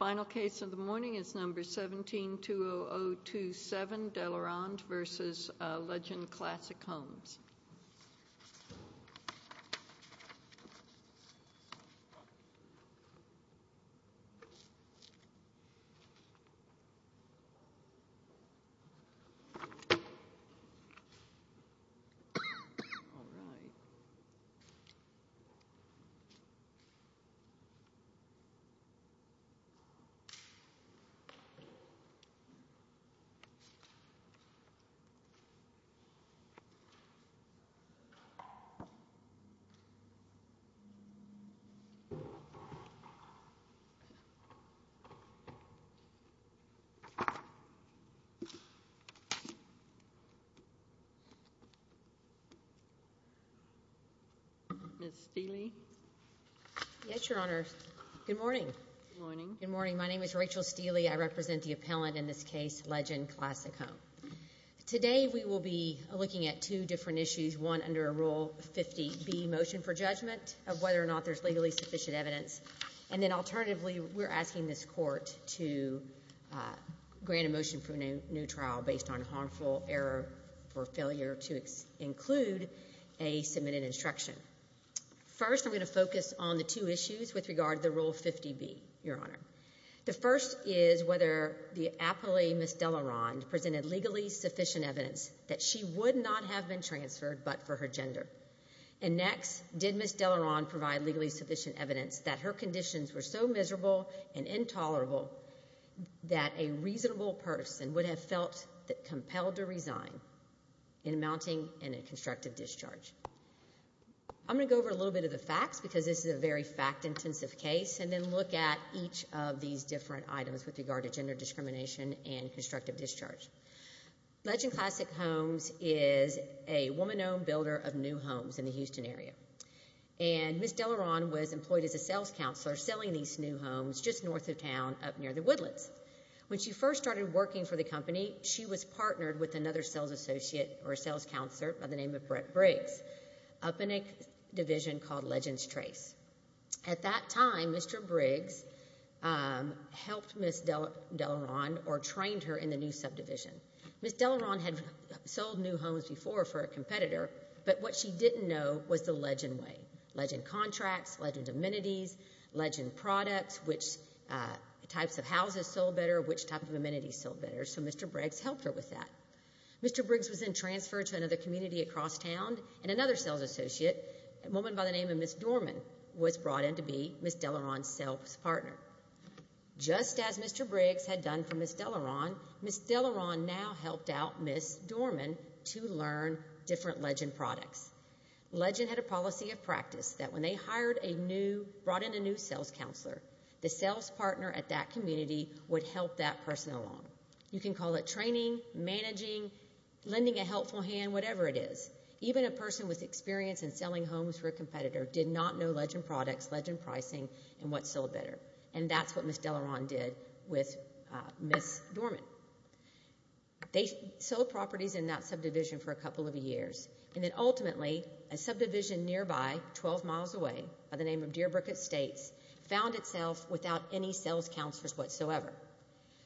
Final case of the morning is No. 17-20027, Delaronde v. Legend Classic Homes. Delaronde v. Legend Classic Homes, Limited Final case of the morning is No. 17-20027, Delaronde v. Legend Classic Homes. Rachel Steele. Yes, Your Honor. Good morning. Good morning. My name is Rachel Steele. I represent the appellant in this case, Legend Classic Homes. Today, we will be looking at two different issues, one under Rule 50B, motion for judgment of whether or not there's legally sufficient evidence. And then alternatively, we're asking this court to grant a motion for a new trial based on harmful error or failure to include a submitted instruction. First, I'm going to focus on the two issues with regard to the Rule 50B, Your Honor. The first is whether the appellee, Ms. Delaronde, presented legally sufficient evidence that she would not have been transferred but for her gender. And next, did Ms. Delaronde provide legally sufficient evidence that her conditions were so miserable and intolerable that a reasonable person would have felt compelled to resign in amounting in a constructive discharge. I'm going to go over a little bit of the facts because this is a very fact-intensive case and then look at each of these different items with regard to gender discrimination and constructive discharge. Legend Classic Homes is a woman-owned builder of new homes in the Houston area. And Ms. Delaronde was employed as a sales counselor selling these new homes just north of town up near the Woodlands. When she first started working for the company, she was partnered with another sales associate or sales counselor by the name of Brett Briggs up in a division called Legends Trace. At that time, Mr. Briggs helped Ms. Delaronde or trained her in the new subdivision. Ms. Delaronde had sold new homes before for a competitor, but what she didn't know was the legend way, legend contracts, legend amenities, legend products, which types of houses sold better, which types of amenities sold better. So Mr. Briggs helped her with that. Mr. Briggs was then transferred to another community across town, and another sales associate, a woman by the name of Ms. Dorman, was brought in to be Ms. Delaronde's sales partner. Just as Mr. Briggs had done for Ms. Delaronde, Ms. Delaronde now helped out Ms. Dorman to learn different legend products. Legend had a policy of practice that when they hired a new, brought in a new sales counselor, the sales partner at that community would help that person along. You can call it training, managing, lending a helpful hand, whatever it is. Even a person with experience in selling homes for a competitor did not know legend products, legend pricing, and what sold better, and that's what Ms. Delaronde did with Ms. Dorman. They sold properties in that subdivision for a couple of years, and then ultimately, a subdivision nearby, 12 miles away, by the name of Deerbrook Estates, found itself without any sales counselors whatsoever.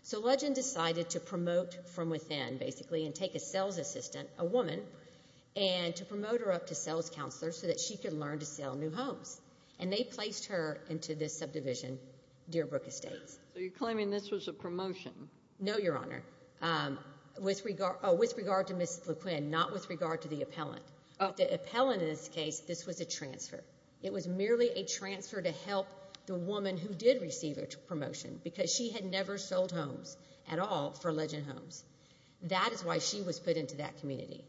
So legend decided to promote from within, basically, and take a sales assistant, a woman, and to promote her up to sales counselor so that she could learn to sell new homes. And they placed her into this subdivision, Deerbrook Estates. So you're claiming this was a promotion? No, Your Honor. With regard to Ms. LeQuinn, not with regard to the appellant. The appellant, in this case, this was a transfer. It was merely a transfer to help the woman who did receive a promotion because she had never sold homes at all for Legend Homes. That is why she was put into that community.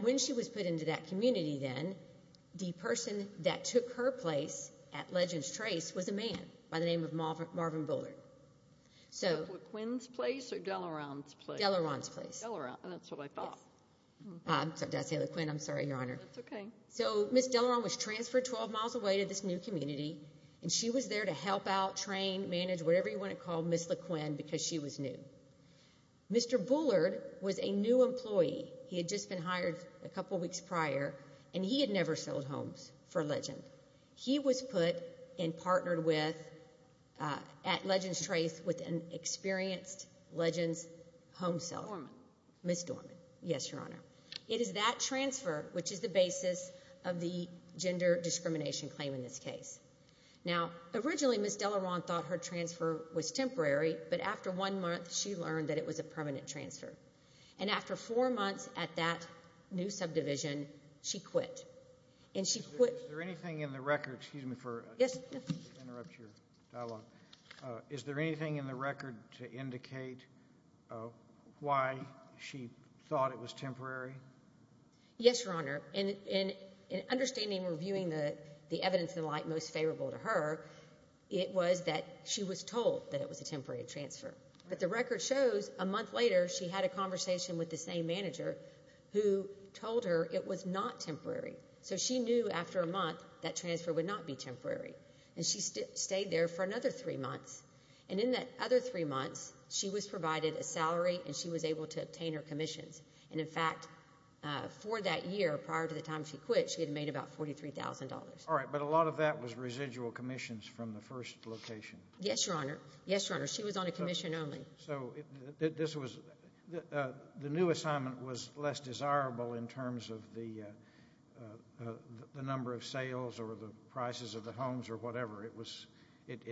When she was put into that community, then, the person that took her place at Legend's Trace was a man by the name of Marvin Bullard. Was that LeQuinn's place or Delaronde's place? Delaronde's place. And that's what I thought. I'm sorry to say, LeQuinn, I'm sorry, Your Honor. That's okay. So Ms. Delaronde was transferred 12 miles away to this new community, and she was there to help out, train, manage, whatever you want to call Ms. LeQuinn because she was new. Mr. Bullard was a new employee. He had just been hired a couple weeks prior, and he had never sold homes for Legend. He was put and partnered with at Legend's Trace with an experienced Legend's home seller. Dorman. Ms. Dorman. Yes, Your Honor. It is that transfer which is the basis of the gender discrimination claim in this case. Now, originally, Ms. Delaronde thought her transfer was temporary, but after one month, she learned that it was a permanent transfer. And after four months at that new subdivision, she quit. And she quit. Is there anything in the record? Excuse me for interrupting your dialogue. Is there anything in the record to indicate why she thought it was temporary? Yes, Your Honor. In understanding and reviewing the evidence and the like most favorable to her, it was that she was told that it was a temporary transfer. But the record shows a month later she had a conversation with the same manager who told her it was not temporary. So she knew after a month that transfer would not be temporary. And she stayed there for another three months. And in that other three months, she was provided a salary and she was able to obtain her commissions. And, in fact, for that year prior to the time she quit, she had made about $43,000. All right. But a lot of that was residual commissions from the first location. Yes, Your Honor. Yes, Your Honor. She was on a commission only. So the new assignment was less desirable in terms of the number of sales or the prices of the homes or whatever. It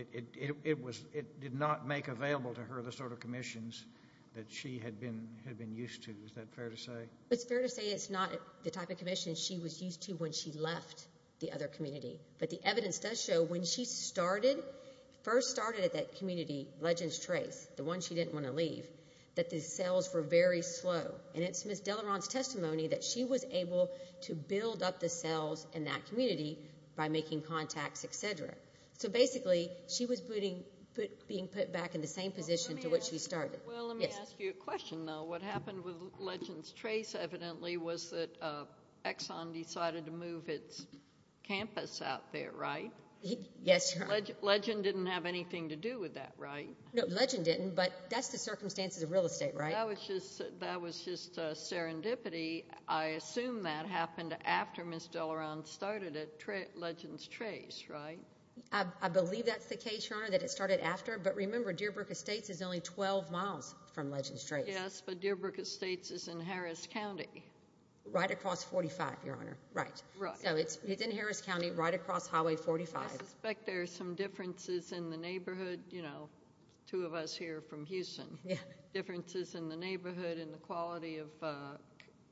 did not make available to her the sort of commissions that she had been used to. Is that fair to say? It's fair to say it's not the type of commissions she was used to when she left the other community. But the evidence does show when she first started at that community, Legends Trace, the one she didn't want to leave, that the sales were very slow. And it's Ms. Deleron's testimony that she was able to build up the sales in that community by making contacts, et cetera. So, basically, she was being put back in the same position to which she started. Well, let me ask you a question, though. What happened with Legends Trace evidently was that Exxon decided to move its campus out there, right? Yes, Your Honor. Legend didn't have anything to do with that, right? No, Legend didn't. But that's the circumstances of real estate, right? That was just serendipity. I assume that happened after Ms. Deleron started at Legends Trace, right? I believe that's the case, Your Honor, that it started after. But remember, Deer Brook Estates is only 12 miles from Legends Trace. Yes, but Deer Brook Estates is in Harris County. Right across 45, Your Honor. Right. So it's in Harris County, right across Highway 45. I suspect there are some differences in the neighborhood, you know, two of us here from Houston. Differences in the neighborhood and the quality of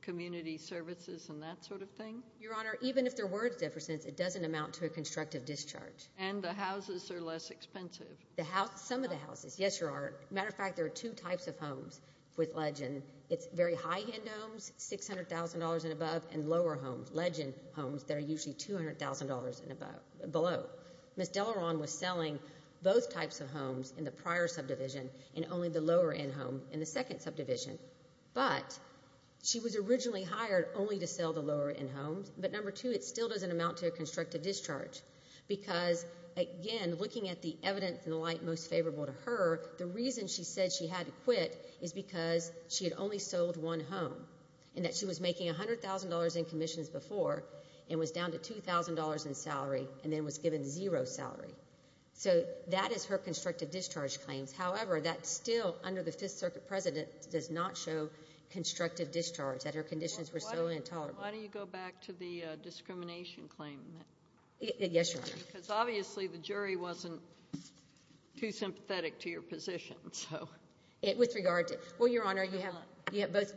community services and that sort of thing. Your Honor, even if there were differences, it doesn't amount to a constructive discharge. And the houses are less expensive. Some of the houses, yes, there are. Matter of fact, there are two types of homes with Legend. It's very high-end homes, $600,000 and above, and lower homes, Legend homes that are usually $200,000 and below. Ms. Deleron was selling both types of homes in the prior subdivision and only the lower-end home in the second subdivision. But she was originally hired only to sell the lower-end homes, but number two, it still doesn't amount to a constructive discharge because, again, looking at the evidence and the light most favorable to her, the reason she said she had to quit is because she had only sold one home and that she was making $100,000 in commissions before and was down to $2,000 in salary and then was given zero salary. So that is her constructive discharge claims. However, that still, under the Fifth Circuit precedent, does not show constructive discharge, that her conditions were solely intolerable. Why don't you go back to the discrimination claim? Yes, Your Honor. Because obviously the jury wasn't too sympathetic to your position, so. With regard to it, well, Your Honor, you have both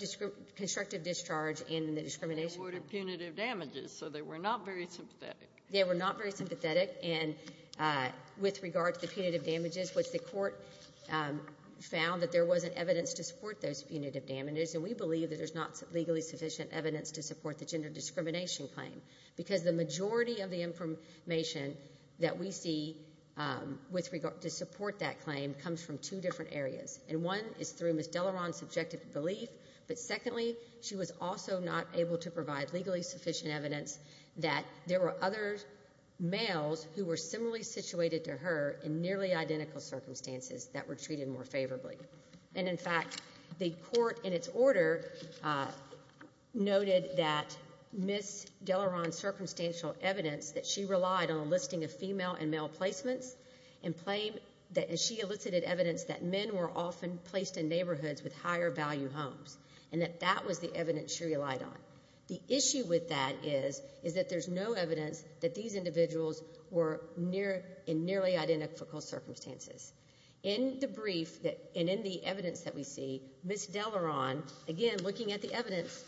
constructive discharge and the discrimination claim. They awarded punitive damages, so they were not very sympathetic. They were not very sympathetic, and with regard to the punitive damages, which the court found that there wasn't evidence to support those punitive damages, and we believe that there's not legally sufficient evidence to support the gender discrimination claim because the majority of the information that we see with regard to support that claim comes from two different areas, and one is through Ms. Delaron's subjective belief, but secondly, she was also not able to provide legally sufficient evidence that there were other males who were similarly situated to her in nearly identical circumstances that were treated more favorably. And, in fact, the court in its order noted that Ms. Delaron's circumstantial evidence that she relied on a listing of female and male placements and she elicited evidence that men were often placed in neighborhoods with higher value homes and that that was the evidence she relied on. The issue with that is that there's no evidence that these individuals were in nearly identical circumstances. In the brief and in the evidence that we see, Ms. Delaron, again, looking at the evidence,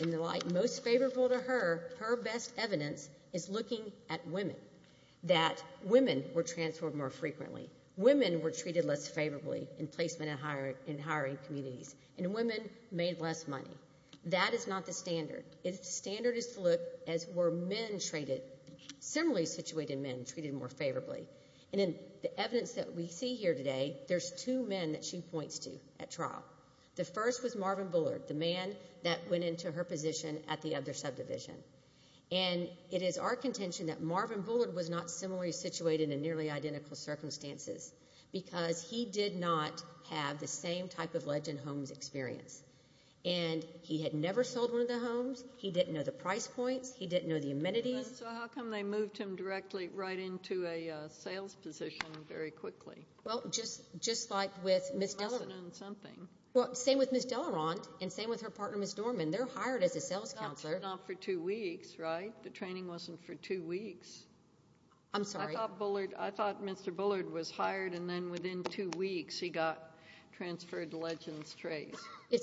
in the light most favorable to her, her best evidence is looking at women, that women were transferred more frequently, women were treated less favorably in placement and hiring communities, and women made less money. That is not the standard. The standard is to look as were men treated, similarly situated men treated more favorably. And in the evidence that we see here today, there's two men that she points to at trial. The first was Marvin Bullard, the man that went into her position at the other subdivision. And it is our contention that Marvin Bullard was not similarly situated in nearly identical circumstances because he did not have the same type of legend homes experience. And he had never sold one of the homes. He didn't know the price points. He didn't know the amenities. So how come they moved him directly right into a sales position very quickly? Well, just like with Ms. Delaron. Well, same with Ms. Delaron and same with her partner, Ms. Dorman. They're hired as a sales counselor. Not for two weeks, right? The training wasn't for two weeks. I'm sorry. I thought Mr. Bullard was hired, and then within two weeks he got transferred to Legends Trace.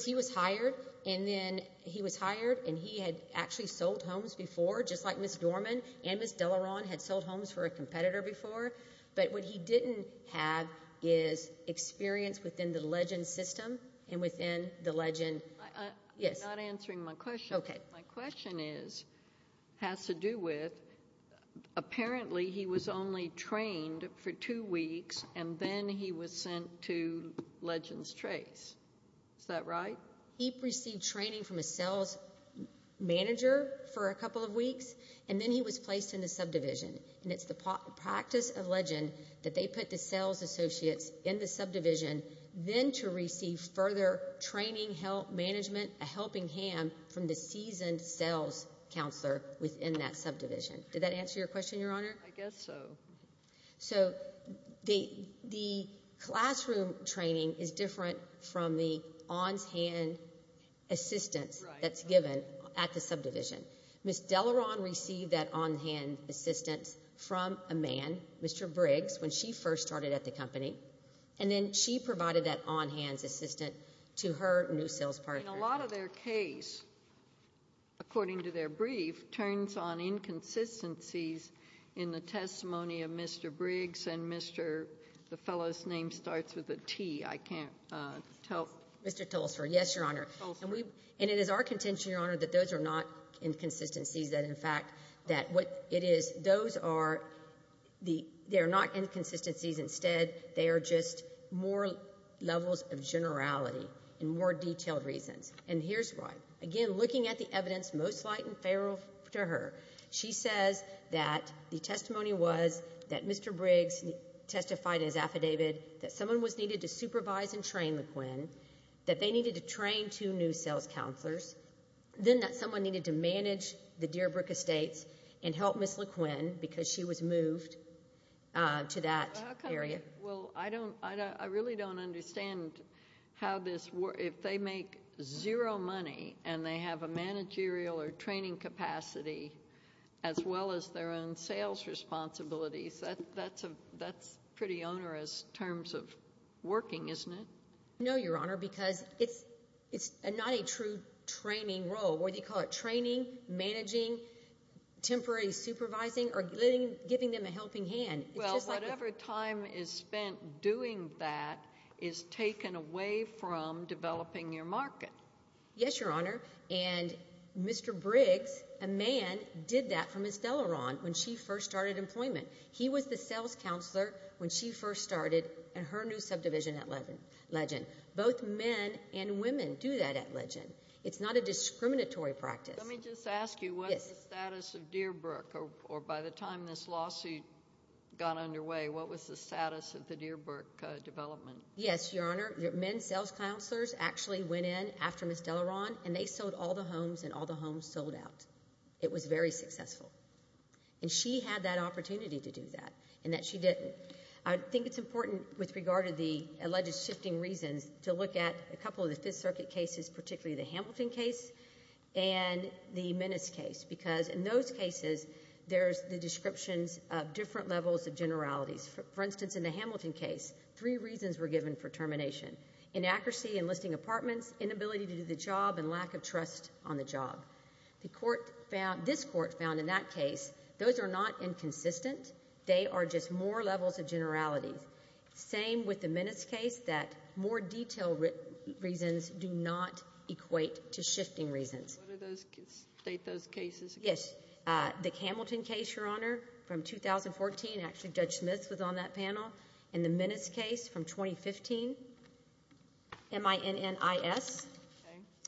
He was hired, and then he was hired, and he had actually sold homes before, just like Ms. Dorman and Ms. Delaron had sold homes for a competitor before. But what he didn't have is experience within the legend system and within the legend. I'm not answering my question. My question has to do with apparently he was only trained for two weeks, and then he was sent to Legends Trace. Is that right? He received training from a sales manager for a couple of weeks, and then he was placed in the subdivision. And it's the practice of legend that they put the sales associates in the subdivision then to receive further training, help, management, a helping hand, from the seasoned sales counselor within that subdivision. Did that answer your question, Your Honor? I guess so. So the classroom training is different from the on-hand assistance that's given at the subdivision. Ms. Delaron received that on-hand assistance from a man, Mr. Briggs, when she first started at the company, and then she provided that on-hand assistance to her new sales partner. And a lot of their case, according to their brief, turns on inconsistencies in the testimony of Mr. Briggs and Mr. The fellow's name starts with a T. I can't tell. Mr. Tulsa, yes, Your Honor. And it is our contention, Your Honor, that those are not inconsistencies, that in fact that what it is, those are not inconsistencies. Instead, they are just more levels of generality and more detailed reasons. And here's why. Again, looking at the evidence, most light and feral to her, she says that the testimony was that Mr. Briggs testified as affidavit that someone was needed to supervise and train LeQuin, that they needed to train two new sales counselors, then that someone needed to manage the Dearbrook Estates and help Ms. LeQuin because she was moved to that area. Well, I don't – I really don't understand how this – if they make zero money and they have a managerial or training capacity as well as their own sales responsibilities, that's pretty onerous in terms of working, isn't it? No, Your Honor, because it's not a true training role. Or they call it training, managing, temporary supervising, or giving them a helping hand. Well, whatever time is spent doing that is taken away from developing your market. Yes, Your Honor. And Mr. Briggs, a man, did that for Ms. Deleron when she first started employment. He was the sales counselor when she first started in her new subdivision at Legend. Both men and women do that at Legend. It's not a discriminatory practice. Let me just ask you, what is the status of Dearbrook, or by the time this lawsuit got underway, what was the status of the Dearbrook development? Yes, Your Honor, men sales counselors actually went in after Ms. Deleron and they sold all the homes and all the homes sold out. It was very successful. And she had that opportunity to do that and that she didn't. I think it's important with regard to the alleged shifting reasons to look at a couple of the Fifth Circuit cases, particularly the Hamilton case and the Minnis case because in those cases, there's the descriptions of different levels of generalities. For instance, in the Hamilton case, three reasons were given for termination, inaccuracy in listing apartments, inability to do the job, and lack of trust on the job. This court found in that case those are not inconsistent. They are just more levels of generalities. Same with the Minnis case, that more detailed reasons do not equate to shifting reasons. State those cases again. Yes. The Hamilton case, Your Honor, from 2014, actually Judge Smith was on that panel, and the Minnis case from 2015, M-I-N-N-I-S.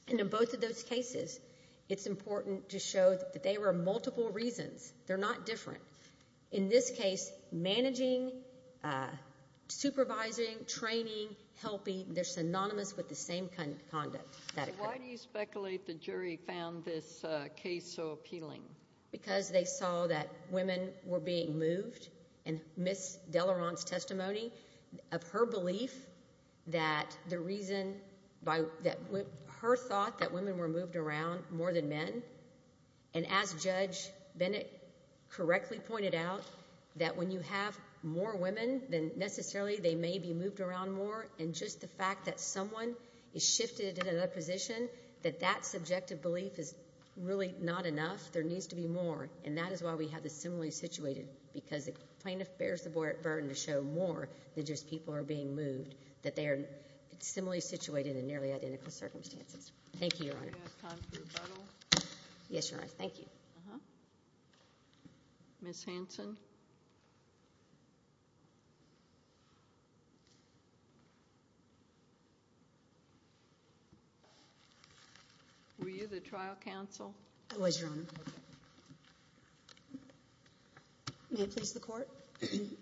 And in both of those cases, it's important to show that they were multiple reasons. They're not different. In this case, managing, supervising, training, helping, they're synonymous with the same kind of conduct that occurred. So why do you speculate the jury found this case so appealing? Because they saw that women were being moved, and Ms. Delaron's testimony of her belief that the reason that her thought that women were moved around more than men, and as Judge Bennett correctly pointed out, that when you have more women than necessarily they may be moved around more, and just the fact that someone is shifted in another position, that that subjective belief is really not enough. There needs to be more. And that is why we have the similarly situated, because the plaintiff bears the burden to show more than just people are being moved, Thank you, Your Honor. Do we have time for rebuttal? Yes, Your Honor. Thank you. Ms. Hanson? Were you the trial counsel? I was, Your Honor. May it please the Court?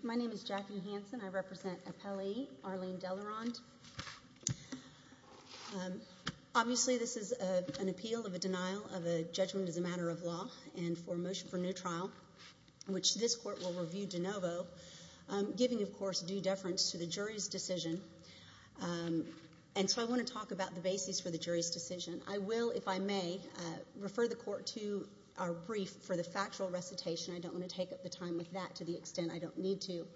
My name is Jackie Hanson. I represent appellee Arlene Delaron. Obviously, this is an appeal of a denial of a judgment as a matter of law and for a motion for new trial, which this Court will review de novo, giving, of course, due deference to the jury's decision. And so I want to talk about the basis for the jury's decision. I will, if I may, refer the Court to our brief for the factual recitation. I don't want to take up the time with that to the extent I don't need to.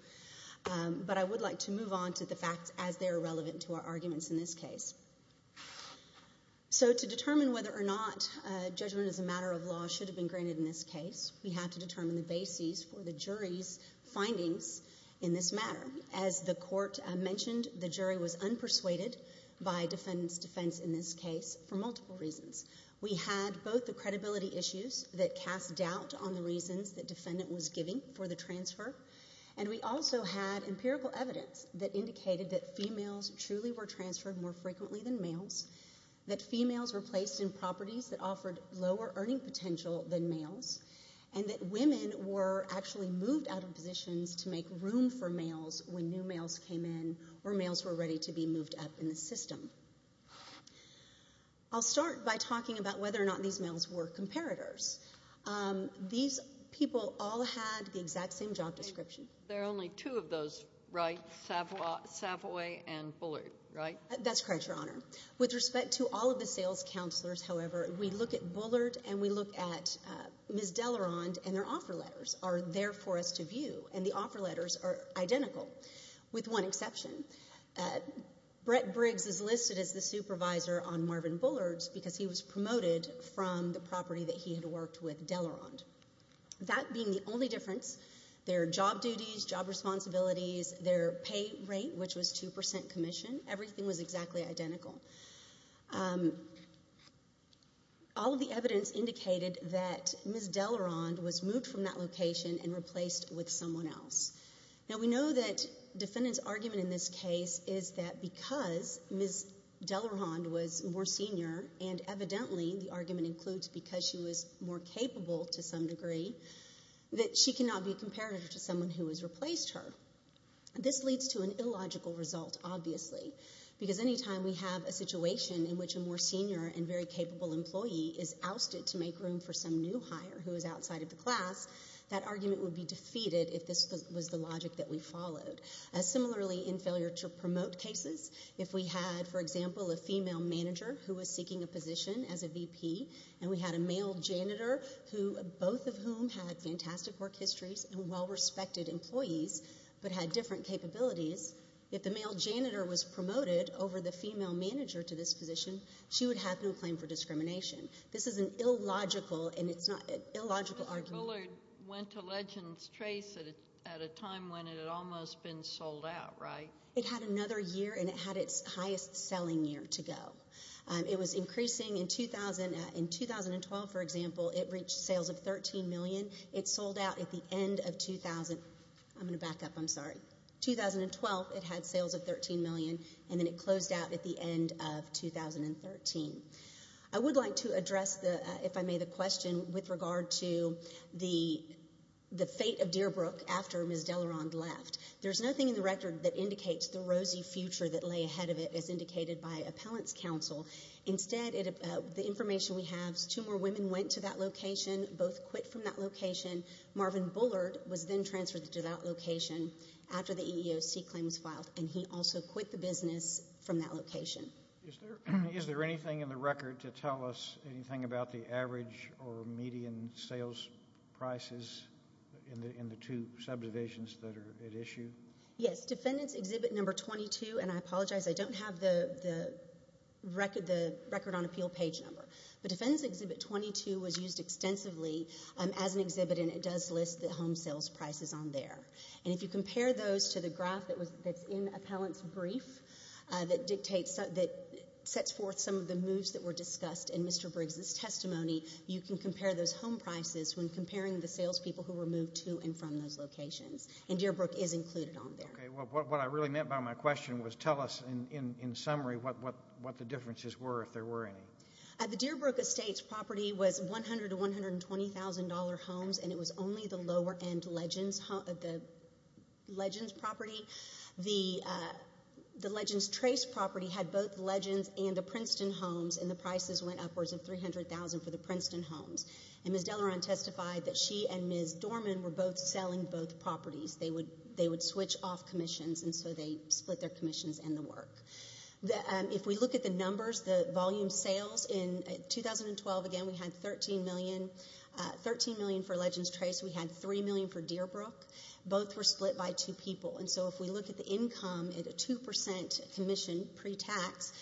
But I would like to move on to the facts as they are relevant to our arguments in this case. So to determine whether or not judgment as a matter of law should have been granted in this case, we have to determine the basis for the jury's findings in this matter. As the Court mentioned, the jury was unpersuaded by defendant's defense in this case for multiple reasons. We had both the credibility issues that cast doubt on the reasons the defendant was giving for the transfer, and we also had empirical evidence that indicated that females truly were transferred more frequently than males, that females were placed in properties that offered lower earning potential than males, and that women were actually moved out of positions to make room for males when new males came in or males were ready to be moved up in the system. I'll start by talking about whether or not these males were comparators. These people all had the exact same job description. There are only two of those, right, Savoy and Bullard, right? That's correct, Your Honor. With respect to all of the sales counselors, however, we look at Bullard and we look at Ms. Dellerand, and their offer letters are there for us to view, and the offer letters are identical with one exception. Brett Briggs is listed as the supervisor on Marvin Bullard's because he was promoted from the property that he had worked with Dellerand. That being the only difference, their job duties, job responsibilities, their pay rate, which was 2% commission, everything was exactly identical. All of the evidence indicated that Ms. Dellerand was moved from that location and replaced with someone else. Now, we know that defendant's argument in this case is that because Ms. Dellerand was more senior, and evidently the argument includes because she was more capable to some degree, that she cannot be a comparator to someone who has replaced her. This leads to an illogical result, obviously, because any time we have a situation in which a more senior and very capable employee is ousted to make room for some new hire who is outside of the class, that argument would be defeated if this was the logic that we followed. Similarly, in failure to promote cases, if we had, for example, a female manager who was seeking a position as a VP, and we had a male janitor, both of whom had fantastic work histories and well-respected employees, but had different capabilities, if the male janitor was promoted over the female manager to this position, she would have no claim for discrimination. This is an illogical argument. Mr. Bullard went to Legends Chase at a time when it had almost been sold out, right? It had another year, and it had its highest selling year to go. It was increasing. In 2012, for example, it reached sales of $13 million. It sold out at the end of 2000. I'm going to back up. I'm sorry. In 2012, it had sales of $13 million, and then it closed out at the end of 2013. I would like to address, if I may, the question with regard to the fate of Dearbrook after Ms. Dellerand left. There's nothing in the record that indicates the rosy future that lay ahead of it as indicated by appellant's counsel. Instead, the information we have is two more women went to that location, both quit from that location. Marvin Bullard was then transferred to that location after the EEOC claim was filed, Is there anything in the record to tell us anything about the average or median sales prices in the two subdivisions that are at issue? Yes. Defendant's Exhibit No. 22, and I apologize, I don't have the record on appeal page number, but Defendant's Exhibit 22 was used extensively as an exhibit, and it does list the home sales prices on there. If you compare those to the graph that's in appellant's brief that sets forth some of the moves that were discussed in Mr. Briggs' testimony, you can compare those home prices when comparing the salespeople who were moved to and from those locations, and Dearbrook is included on there. What I really meant by my question was tell us, in summary, what the differences were, if there were any. The Dearbrook Estates property was $100,000 to $120,000 homes, and it was only the Lower End Legends property. The Legends Trace property had both Legends and the Princeton homes, and the prices went upwards of $300,000 for the Princeton homes. Ms. Delleron testified that she and Ms. Dorman were both selling both properties. They would switch off commissions, and so they split their commissions and the work. If we look at the numbers, the volume sales in 2012, again, we had $13 million for Legends Trace. We had $3 million for Dearbrook. Both were split by two people, and so if we look at the income at a 2% commission pre-tax,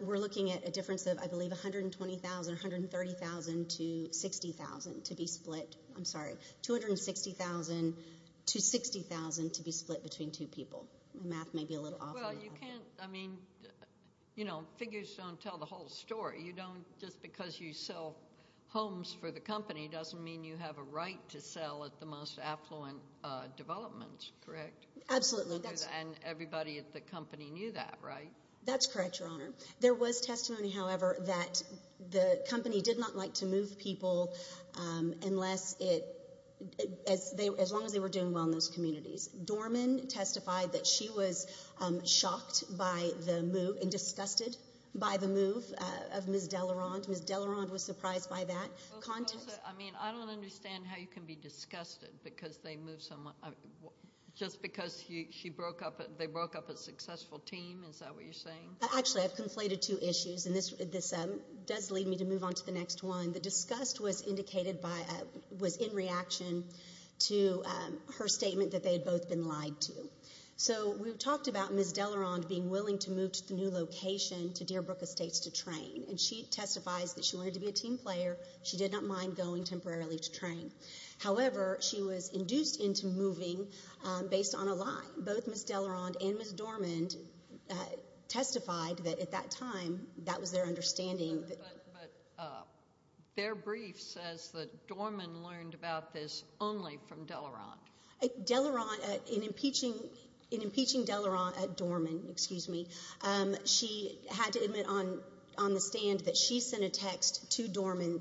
we're looking at a difference of, I believe, $120,000, $130,000 to $60,000 to be split. I'm sorry, $260,000 to $60,000 to be split between two people. Well, you can't, I mean, you know, figures don't tell the whole story. You don't, just because you sell homes for the company doesn't mean you have a right to sell at the most affluent developments, correct? Absolutely. And everybody at the company knew that, right? That's correct, Your Honor. There was testimony, however, that the company did not like to move people unless it, as long as they were doing well in those communities. Dorman testified that she was shocked by the move and disgusted by the move of Ms. Dellerand. Ms. Dellerand was surprised by that. I mean, I don't understand how you can be disgusted because they moved someone just because she broke up, they broke up a successful team, is that what you're saying? Actually, I've conflated two issues, and this does lead me to move on to the next one. The disgust was indicated by, was in reaction to her statement that they had both been lied to. So we talked about Ms. Dellerand being willing to move to the new location, to Deer Brook Estates, to train. And she testifies that she wanted to be a team player. She did not mind going temporarily to train. However, she was induced into moving based on a lie. Both Ms. Dellerand and Ms. Dorman testified that at that time that was their understanding. But their brief says that Dorman learned about this only from Dellerand. Dellerand, in impeaching Dellerand at Dorman, excuse me, she had to admit on the stand that she sent a text to Dorman,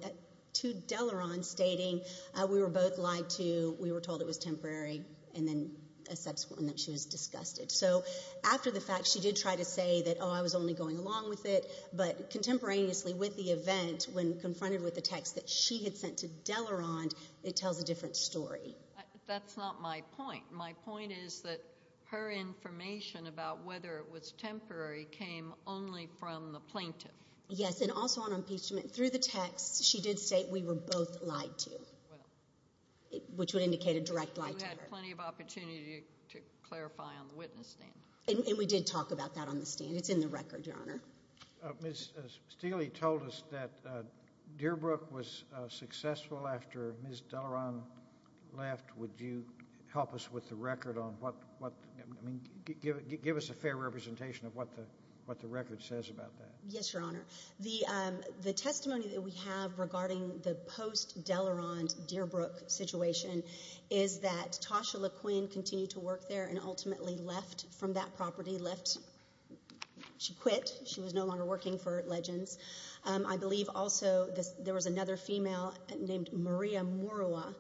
to Dellerand, stating we were both lied to, we were told it was temporary, and then a subsequent that she was disgusted. So after the fact, she did try to say that, oh, I was only going along with it. But contemporaneously with the event, when confronted with the text that she had sent to Dellerand, it tells a different story. That's not my point. My point is that her information about whether it was temporary came only from the plaintiff. Yes, and also on impeachment. Through the text, she did state we were both lied to, which would indicate a direct lie to her. You had plenty of opportunity to clarify on the witness stand. And we did talk about that on the stand. It's in the record, Your Honor. Ms. Steele told us that Dearbrook was successful after Ms. Dellerand left. Would you help us with the record on what, I mean, give us a fair representation of what the record says about that? Yes, Your Honor. The testimony that we have regarding the post-Dellerand, Dearbrook situation is that Tasha LeQuinn continued to work there and ultimately left from that property. She quit. She was no longer working for Legends. I believe also there was another female named Maria Morua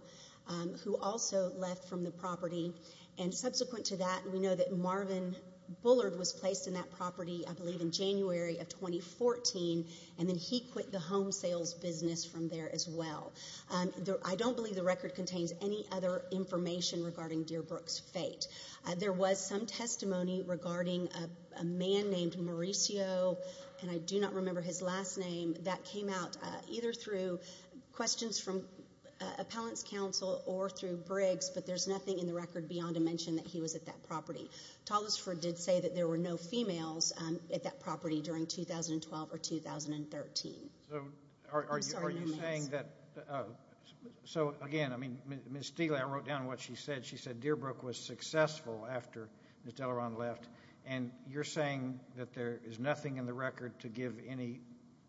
who also left from the property. And subsequent to that, we know that Marvin Bullard was placed in that property, I believe, in January of 2014, and then he quit the home sales business from there as well. I don't believe the record contains any other information regarding Dearbrook's fate. There was some testimony regarding a man named Mauricio, and I do not remember his last name, that came out either through questions from appellants' counsel or through Briggs, but there's nothing in the record beyond a mention that he was at that property. Tollesford did say that there were no females at that property during 2012 or 2013. So are you saying that, so again, I mean, Ms. Steele, I wrote down what she said. She said Dearbrook was successful after Ms. Dellerand left, and you're saying that there is nothing in the record to give any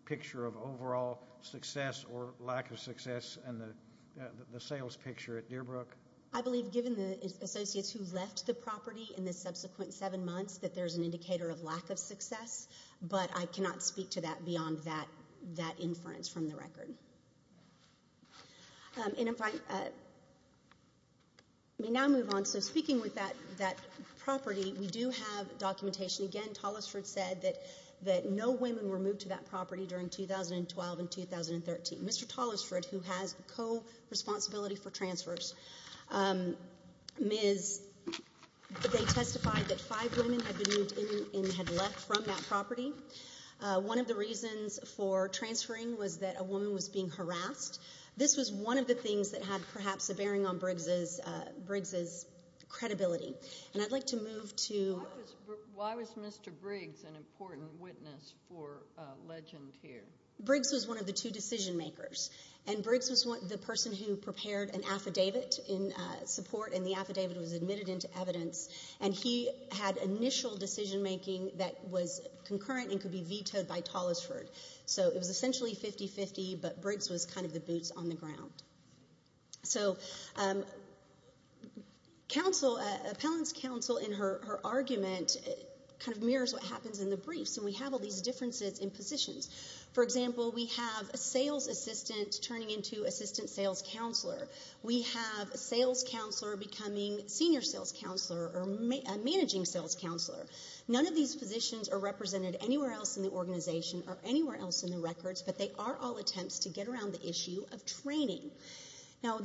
picture of overall success or lack of success in the sales picture at Dearbrook? I believe given the associates who left the property in the subsequent seven months that there's an indicator of lack of success, but I cannot speak to that beyond that inference from the record. And if I may now move on. So speaking with that property, we do have documentation. Again, Tollesford said that no women were moved to that property during 2012 and 2013. Mr. Tollesford, who has co-responsibility for transfers, they testified that five women had been moved in and had left from that property. One of the reasons for transferring was that a woman was being harassed. This was one of the things that had perhaps a bearing on Briggs's credibility. And I'd like to move to – Why was Mr. Briggs an important witness for legend here? Briggs was one of the two decision makers, and Briggs was the person who prepared an affidavit in support, and the affidavit was admitted into evidence, and he had initial decision making that was concurrent and could be vetoed by Tollesford. So it was essentially 50-50, but Briggs was kind of the boots on the ground. So appellant's counsel in her argument kind of mirrors what happens in the briefs, and we have all these differences in positions. For example, we have a sales assistant turning into assistant sales counselor. We have a sales counselor becoming senior sales counselor or a managing sales counselor. None of these positions are represented anywhere else in the organization or anywhere else in the records, but they are all attempts to get around the issue of training. Now,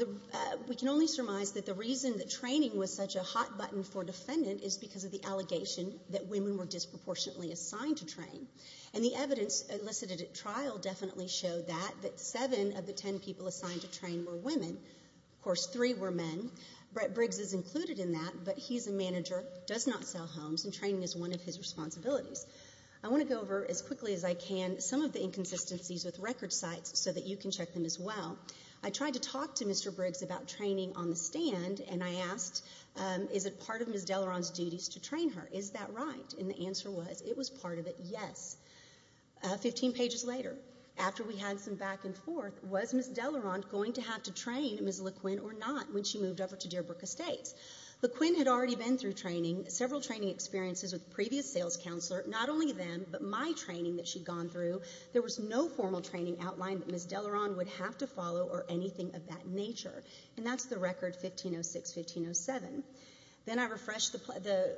we can only surmise that the reason that training was such a hot button for defendant is because of the allegation that women were disproportionately assigned to train. And the evidence elicited at trial definitely showed that, that seven of the ten people assigned to train were women. Of course, three were men. Brett Briggs is included in that, but he's a manager, does not sell homes, and training is one of his responsibilities. I want to go over as quickly as I can some of the inconsistencies with record sites so that you can check them as well. I tried to talk to Mr. Briggs about training on the stand, and I asked, is it part of Ms. Deleron's duties to train her? Is that right? And the answer was, it was part of it, yes. Fifteen pages later, after we had some back and forth, was Ms. Deleron going to have to train Ms. LeQuinn or not when she moved over to Dearbrook Estates? LeQuinn had already been through training, several training experiences with a previous sales counselor. Not only them, but my training that she'd gone through, there was no formal training outline that Ms. Deleron would have to follow or anything of that nature. And that's the record 1506-1507. Then I refreshed the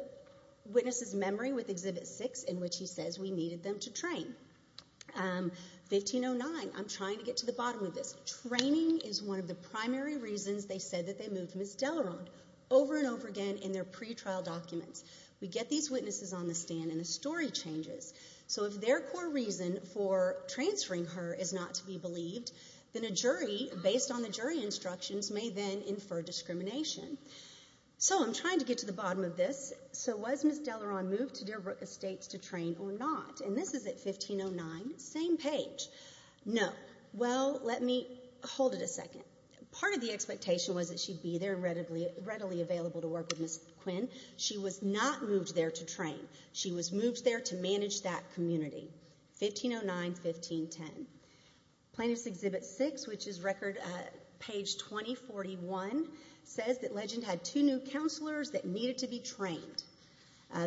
witness's memory with Exhibit 6 in which he says we needed them to train. 1509, I'm trying to get to the bottom of this. Training is one of the primary reasons they said that they moved Ms. Deleron over and over again in their pretrial documents. We get these witnesses on the stand, and the story changes. So if their core reason for transferring her is not to be believed, then a jury, based on the jury instructions, may then infer discrimination. So I'm trying to get to the bottom of this. So was Ms. Deleron moved to Dearbrook Estates to train or not? And this is at 1509, same page. No. Well, let me hold it a second. Part of the expectation was that she'd be there and readily available to work with Ms. LeQuinn. She was not moved there to train. She was moved there to manage that community, 1509-1510. Plaintiff's Exhibit 6, which is record page 2041, says that Legend had two new counselors that needed to be trained.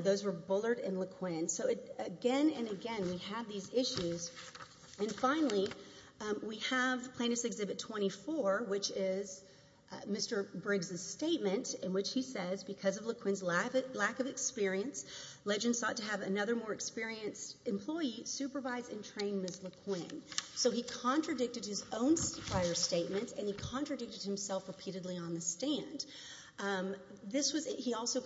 Those were Bullard and LeQuinn. So again and again we have these issues. And finally, we have Plaintiff's Exhibit 24, which is Mr. Briggs' statement in which he says, because of LeQuinn's lack of experience, Legend sought to have another more experienced employee supervise and train Ms. LeQuinn. So he contradicted his own prior statement and he contradicted himself repeatedly on the stand. He also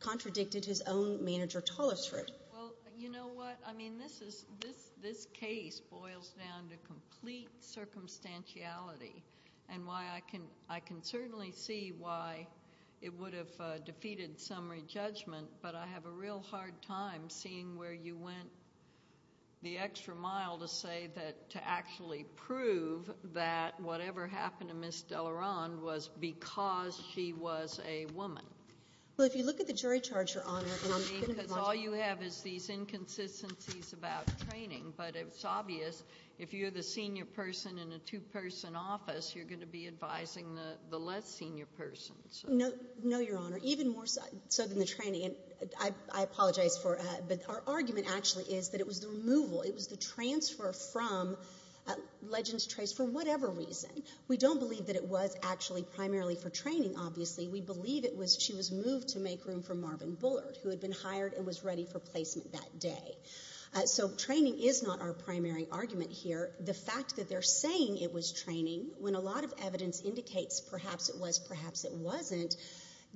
contradicted his own manager, Tollisford. Well, you know what? I mean this case boils down to complete circumstantiality and I can certainly see why it would have defeated summary judgment, but I have a real hard time seeing where you went the extra mile to say that to actually prove that whatever happened to Ms. Deleron was because she was a woman. Well, if you look at the jury charge, Your Honor, and I'm going to be watching. Because all you have is these inconsistencies about training, but it's obvious if you're the senior person in a two-person office, you're going to be advising the less senior person. No, Your Honor, even more so than the training. I apologize, but our argument actually is that it was the removal, it was the transfer from Legends Trace for whatever reason. We don't believe that it was actually primarily for training, obviously. We believe she was moved to make room for Marvin Bullard, who had been hired and was ready for placement that day. So training is not our primary argument here. The fact that they're saying it was training, when a lot of evidence indicates perhaps it was, perhaps it wasn't,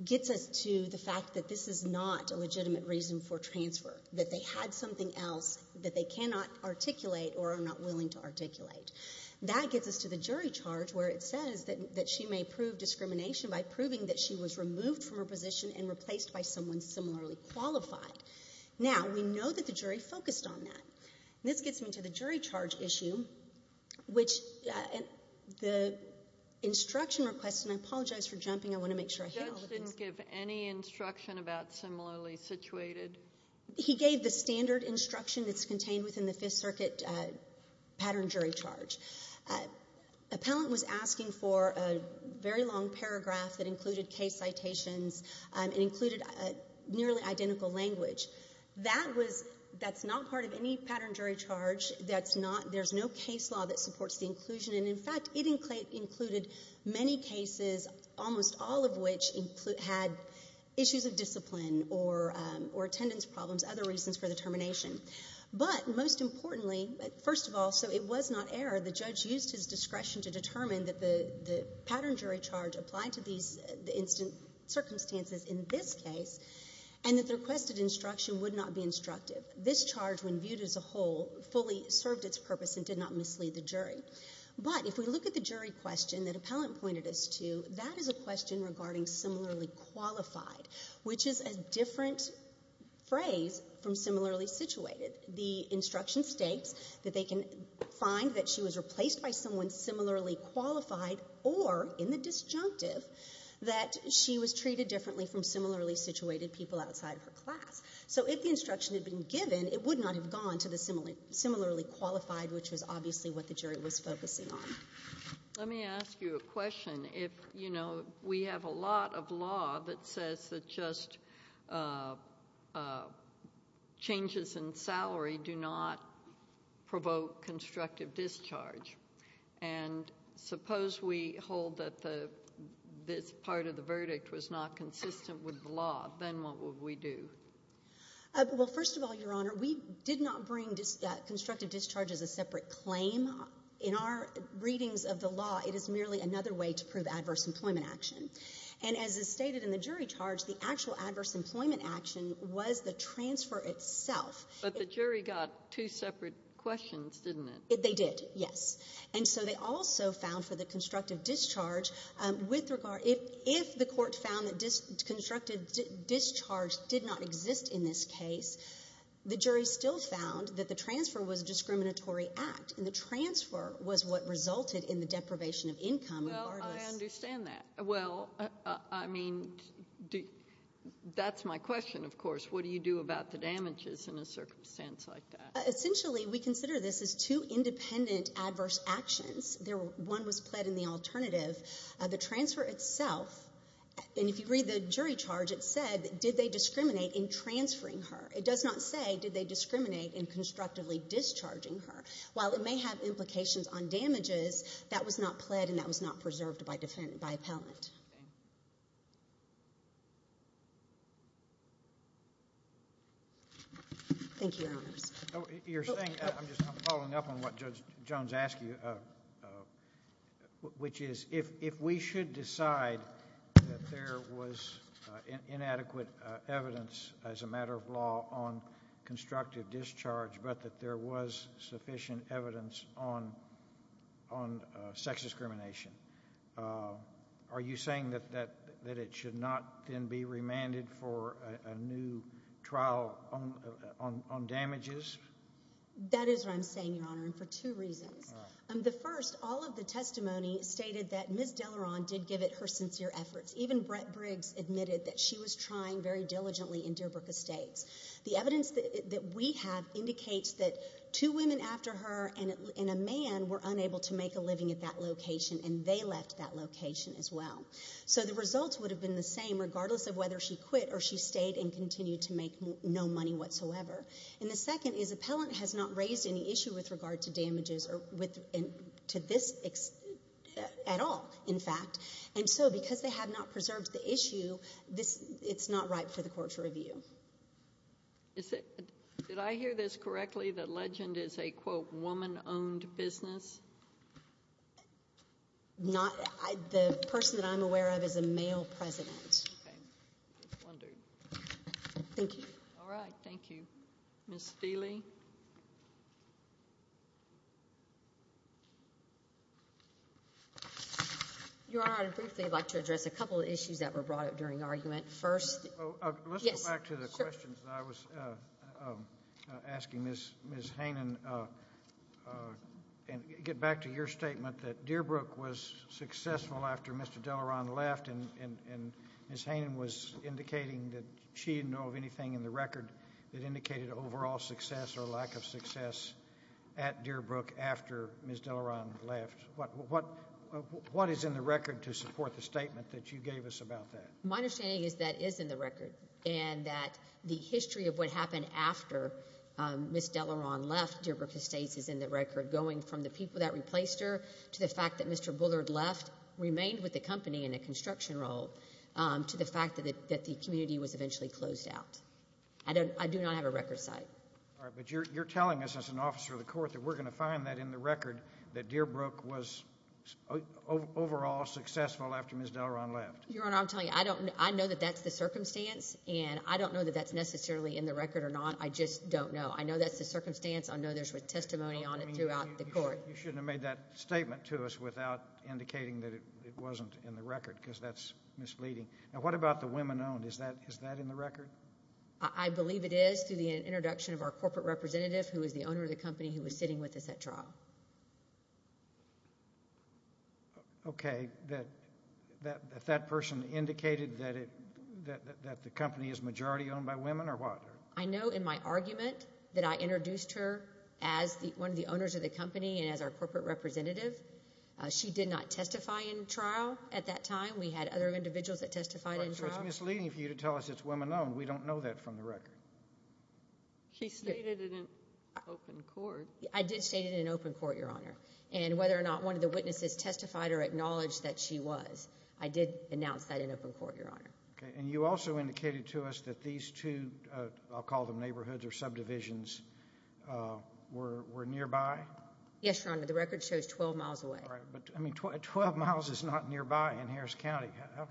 gets us to the fact that this is not a legitimate reason for transfer, that they had something else that they cannot articulate or are not willing to articulate. That gets us to the jury charge where it says that she may prove discrimination by proving that she was removed from her position and replaced by someone similarly qualified. Now, we know that the jury focused on that. This gets me to the jury charge issue, which the instruction request, and I apologize for jumping. I want to make sure I hit all the things. The judge didn't give any instruction about similarly situated. He gave the standard instruction that's contained within the Fifth Circuit pattern jury charge. Appellant was asking for a very long paragraph that included case citations and included nearly identical language. That's not part of any pattern jury charge. There's no case law that supports the inclusion. In fact, it included many cases, almost all of which had issues of discipline or attendance problems, other reasons for the termination. But most importantly, first of all, so it was not error, the judge used his discretion to determine that the pattern jury charge applied to the instant circumstances in this case and that the requested instruction would not be instructive. This charge, when viewed as a whole, fully served its purpose and did not mislead the jury. But if we look at the jury question that appellant pointed us to, that is a question regarding similarly qualified, which is a different phrase from similarly situated. The instruction states that they can find that she was replaced by someone similarly qualified or, in the disjunctive, that she was treated differently from similarly situated people outside her class. So if the instruction had been given, it would not have gone to the similarly qualified, which was obviously what the jury was focusing on. Let me ask you a question. You know, we have a lot of law that says that just changes in salary do not provoke constructive discharge. And suppose we hold that this part of the verdict was not consistent with the law. Then what would we do? Well, first of all, Your Honor, we did not bring constructive discharge as a separate claim. In our readings of the law, it is merely another way to prove adverse employment action. And as is stated in the jury charge, the actual adverse employment action was the transfer itself. But the jury got two separate questions, didn't it? They did, yes. And so they also found for the constructive discharge, if the court found that constructive discharge did not exist in this case, the jury still found that the transfer was a discriminatory act, and the transfer was what resulted in the deprivation of income. Well, I understand that. Well, I mean, that's my question, of course. What do you do about the damages in a circumstance like that? Essentially, we consider this as two independent adverse actions. One was pled in the alternative. The transfer itself, and if you read the jury charge, it said did they discriminate in transferring her. It does not say did they discriminate in constructively discharging her. While it may have implications on damages, that was not pled and that was not preserved by appellant. Thank you, Your Honors. I'm just following up on what Judge Jones asked you, which is if we should decide that there was inadequate evidence, as a matter of law, on constructive discharge, but that there was sufficient evidence on sex discrimination, are you saying that it should not then be remanded for a new trial on damages? That is what I'm saying, Your Honor, and for two reasons. The first, all of the testimony stated that Ms. Deleron did give it her sincere efforts. Even Brett Briggs admitted that she was trying very diligently in Dearbrook Estates. The evidence that we have indicates that two women after her and a man were unable to make a living at that location, and they left that location as well. So the results would have been the same regardless of whether she quit or she stayed and continued to make no money whatsoever. And the second is appellant has not raised any issue with regard to damages or to this at all, in fact. And so because they have not preserved the issue, it's not right for the court to review. Did I hear this correctly, that Legend is a, quote, woman-owned business? Not. The person that I'm aware of is a male president. Okay. I was wondering. Thank you. All right. Thank you. Ms. Steele? Your Honor, I'd briefly like to address a couple of issues that were brought up during argument. First, yes. Let me get back to the questions that I was asking Ms. Hanen and get back to your statement that Dearbrook was successful after Mr. Delaron left, and Ms. Hanen was indicating that she didn't know of anything in the record that indicated overall success or lack of success at Dearbrook after Ms. Delaron left. What is in the record to support the statement that you gave us about that? My understanding is that is in the record and that the history of what happened after Ms. Delaron left Dearbrook Estates is in the record, going from the people that replaced her to the fact that Mr. Bullard left, remained with the company in a construction role, to the fact that the community was eventually closed out. I do not have a record site. All right. But you're telling us as an officer of the court that we're going to find that in the record, that Dearbrook was overall successful after Ms. Delaron left. Your Honor, I'm telling you, I know that that's the circumstance, and I don't know that that's necessarily in the record or not. I just don't know. I know that's the circumstance. I know there's testimony on it throughout the court. You shouldn't have made that statement to us without indicating that it wasn't in the record because that's misleading. Now what about the women owned? Is that in the record? I believe it is through the introduction of our corporate representative who is the owner of the company who was sitting with us at trial. Okay. That that person indicated that the company is majority owned by women or what? I know in my argument that I introduced her as one of the owners of the company and as our corporate representative. She did not testify in trial at that time. We had other individuals that testified in trial. So it's misleading for you to tell us it's women owned. We don't know that from the record. She stated it in open court. I did state it in open court, Your Honor. And whether or not one of the witnesses testified or acknowledged that she was, I did announce that in open court, Your Honor. Okay. And you also indicated to us that these two, I'll call them neighborhoods or subdivisions, were nearby? Yes, Your Honor. The record shows 12 miles away. All right. But 12 miles is not nearby in Harris County. How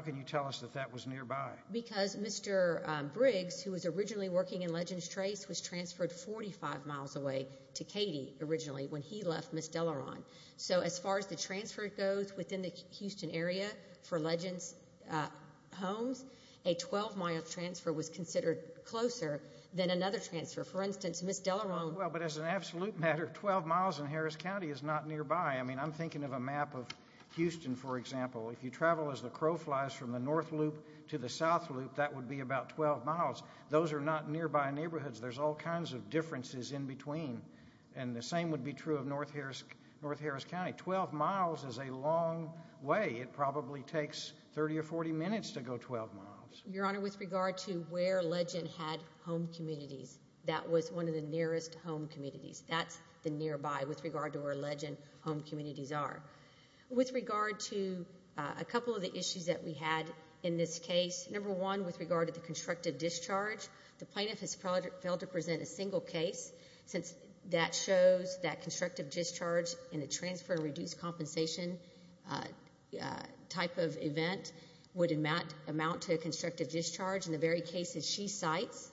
can you tell us that that was nearby? Because Mr. Briggs, who was originally working in Legends Trace, was transferred 45 miles away to Katie originally when he left Miss Delaron. So as far as the transfer goes within the Houston area for Legends Homes, a 12-mile transfer was considered closer than another transfer. For instance, Miss Delaron. Well, but as an absolute matter, 12 miles in Harris County is not nearby. I mean, I'm thinking of a map of Houston, for example. If you travel as the crow flies from the north loop to the south loop, that would be about 12 miles. Those are not nearby neighborhoods. There's all kinds of differences in between. And the same would be true of North Harris County. Twelve miles is a long way. It probably takes 30 or 40 minutes to go 12 miles. Your Honor, with regard to where Legend had home communities, that was one of the nearest home communities. That's the nearby with regard to where Legend home communities are. With regard to a couple of the issues that we had in this case, number one, with regard to the constructive discharge, the plaintiff has failed to present a single case since that shows that constructive discharge in a transfer and reduced compensation type of event would amount to a constructive discharge. And the very cases she cites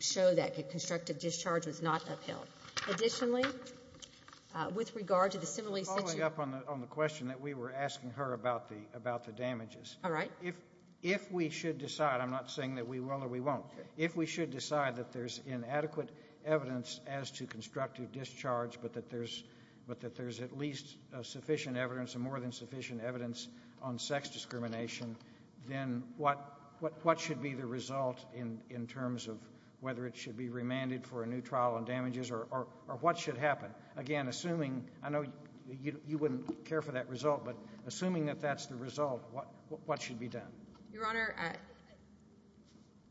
show that constructive discharge was not upheld. Additionally, with regard to the similarly situated... To follow up on the question that we were asking her about the damages. All right. If we should decide, I'm not saying that we will or we won't, if we should decide that there's inadequate evidence as to constructive discharge but that there's at least sufficient evidence and more than sufficient evidence on sex discrimination, then what should be the result in terms of whether it should be remanded for a new trial on damages or what should happen? Again, assuming, I know you wouldn't care for that result, but assuming that that's the result, what should be done? Your Honor,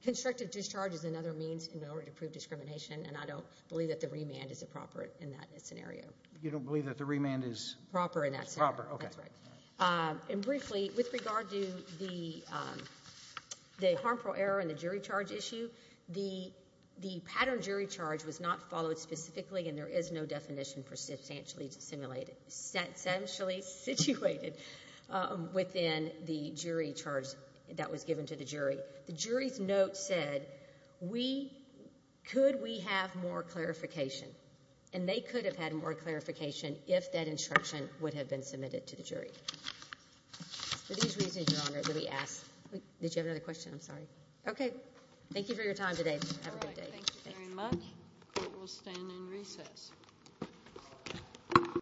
constructive discharge is another means in order to prove discrimination, and I don't believe that the remand is appropriate in that scenario. You don't believe that the remand is... Proper in that scenario. Proper, okay. That's right. And briefly, with regard to the harmful error and the jury charge issue, the pattern jury charge was not followed specifically and there is no definition for substantially situated within the jury charge that was given to the jury. The jury's note said, could we have more clarification? And they could have had more clarification if that instruction would have been submitted to the jury. For these reasons, Your Honor, did we ask... Did you have another question? I'm sorry. Okay. Thank you for your time today. Have a good day. All right. Thank you very much. Court will stand in recess.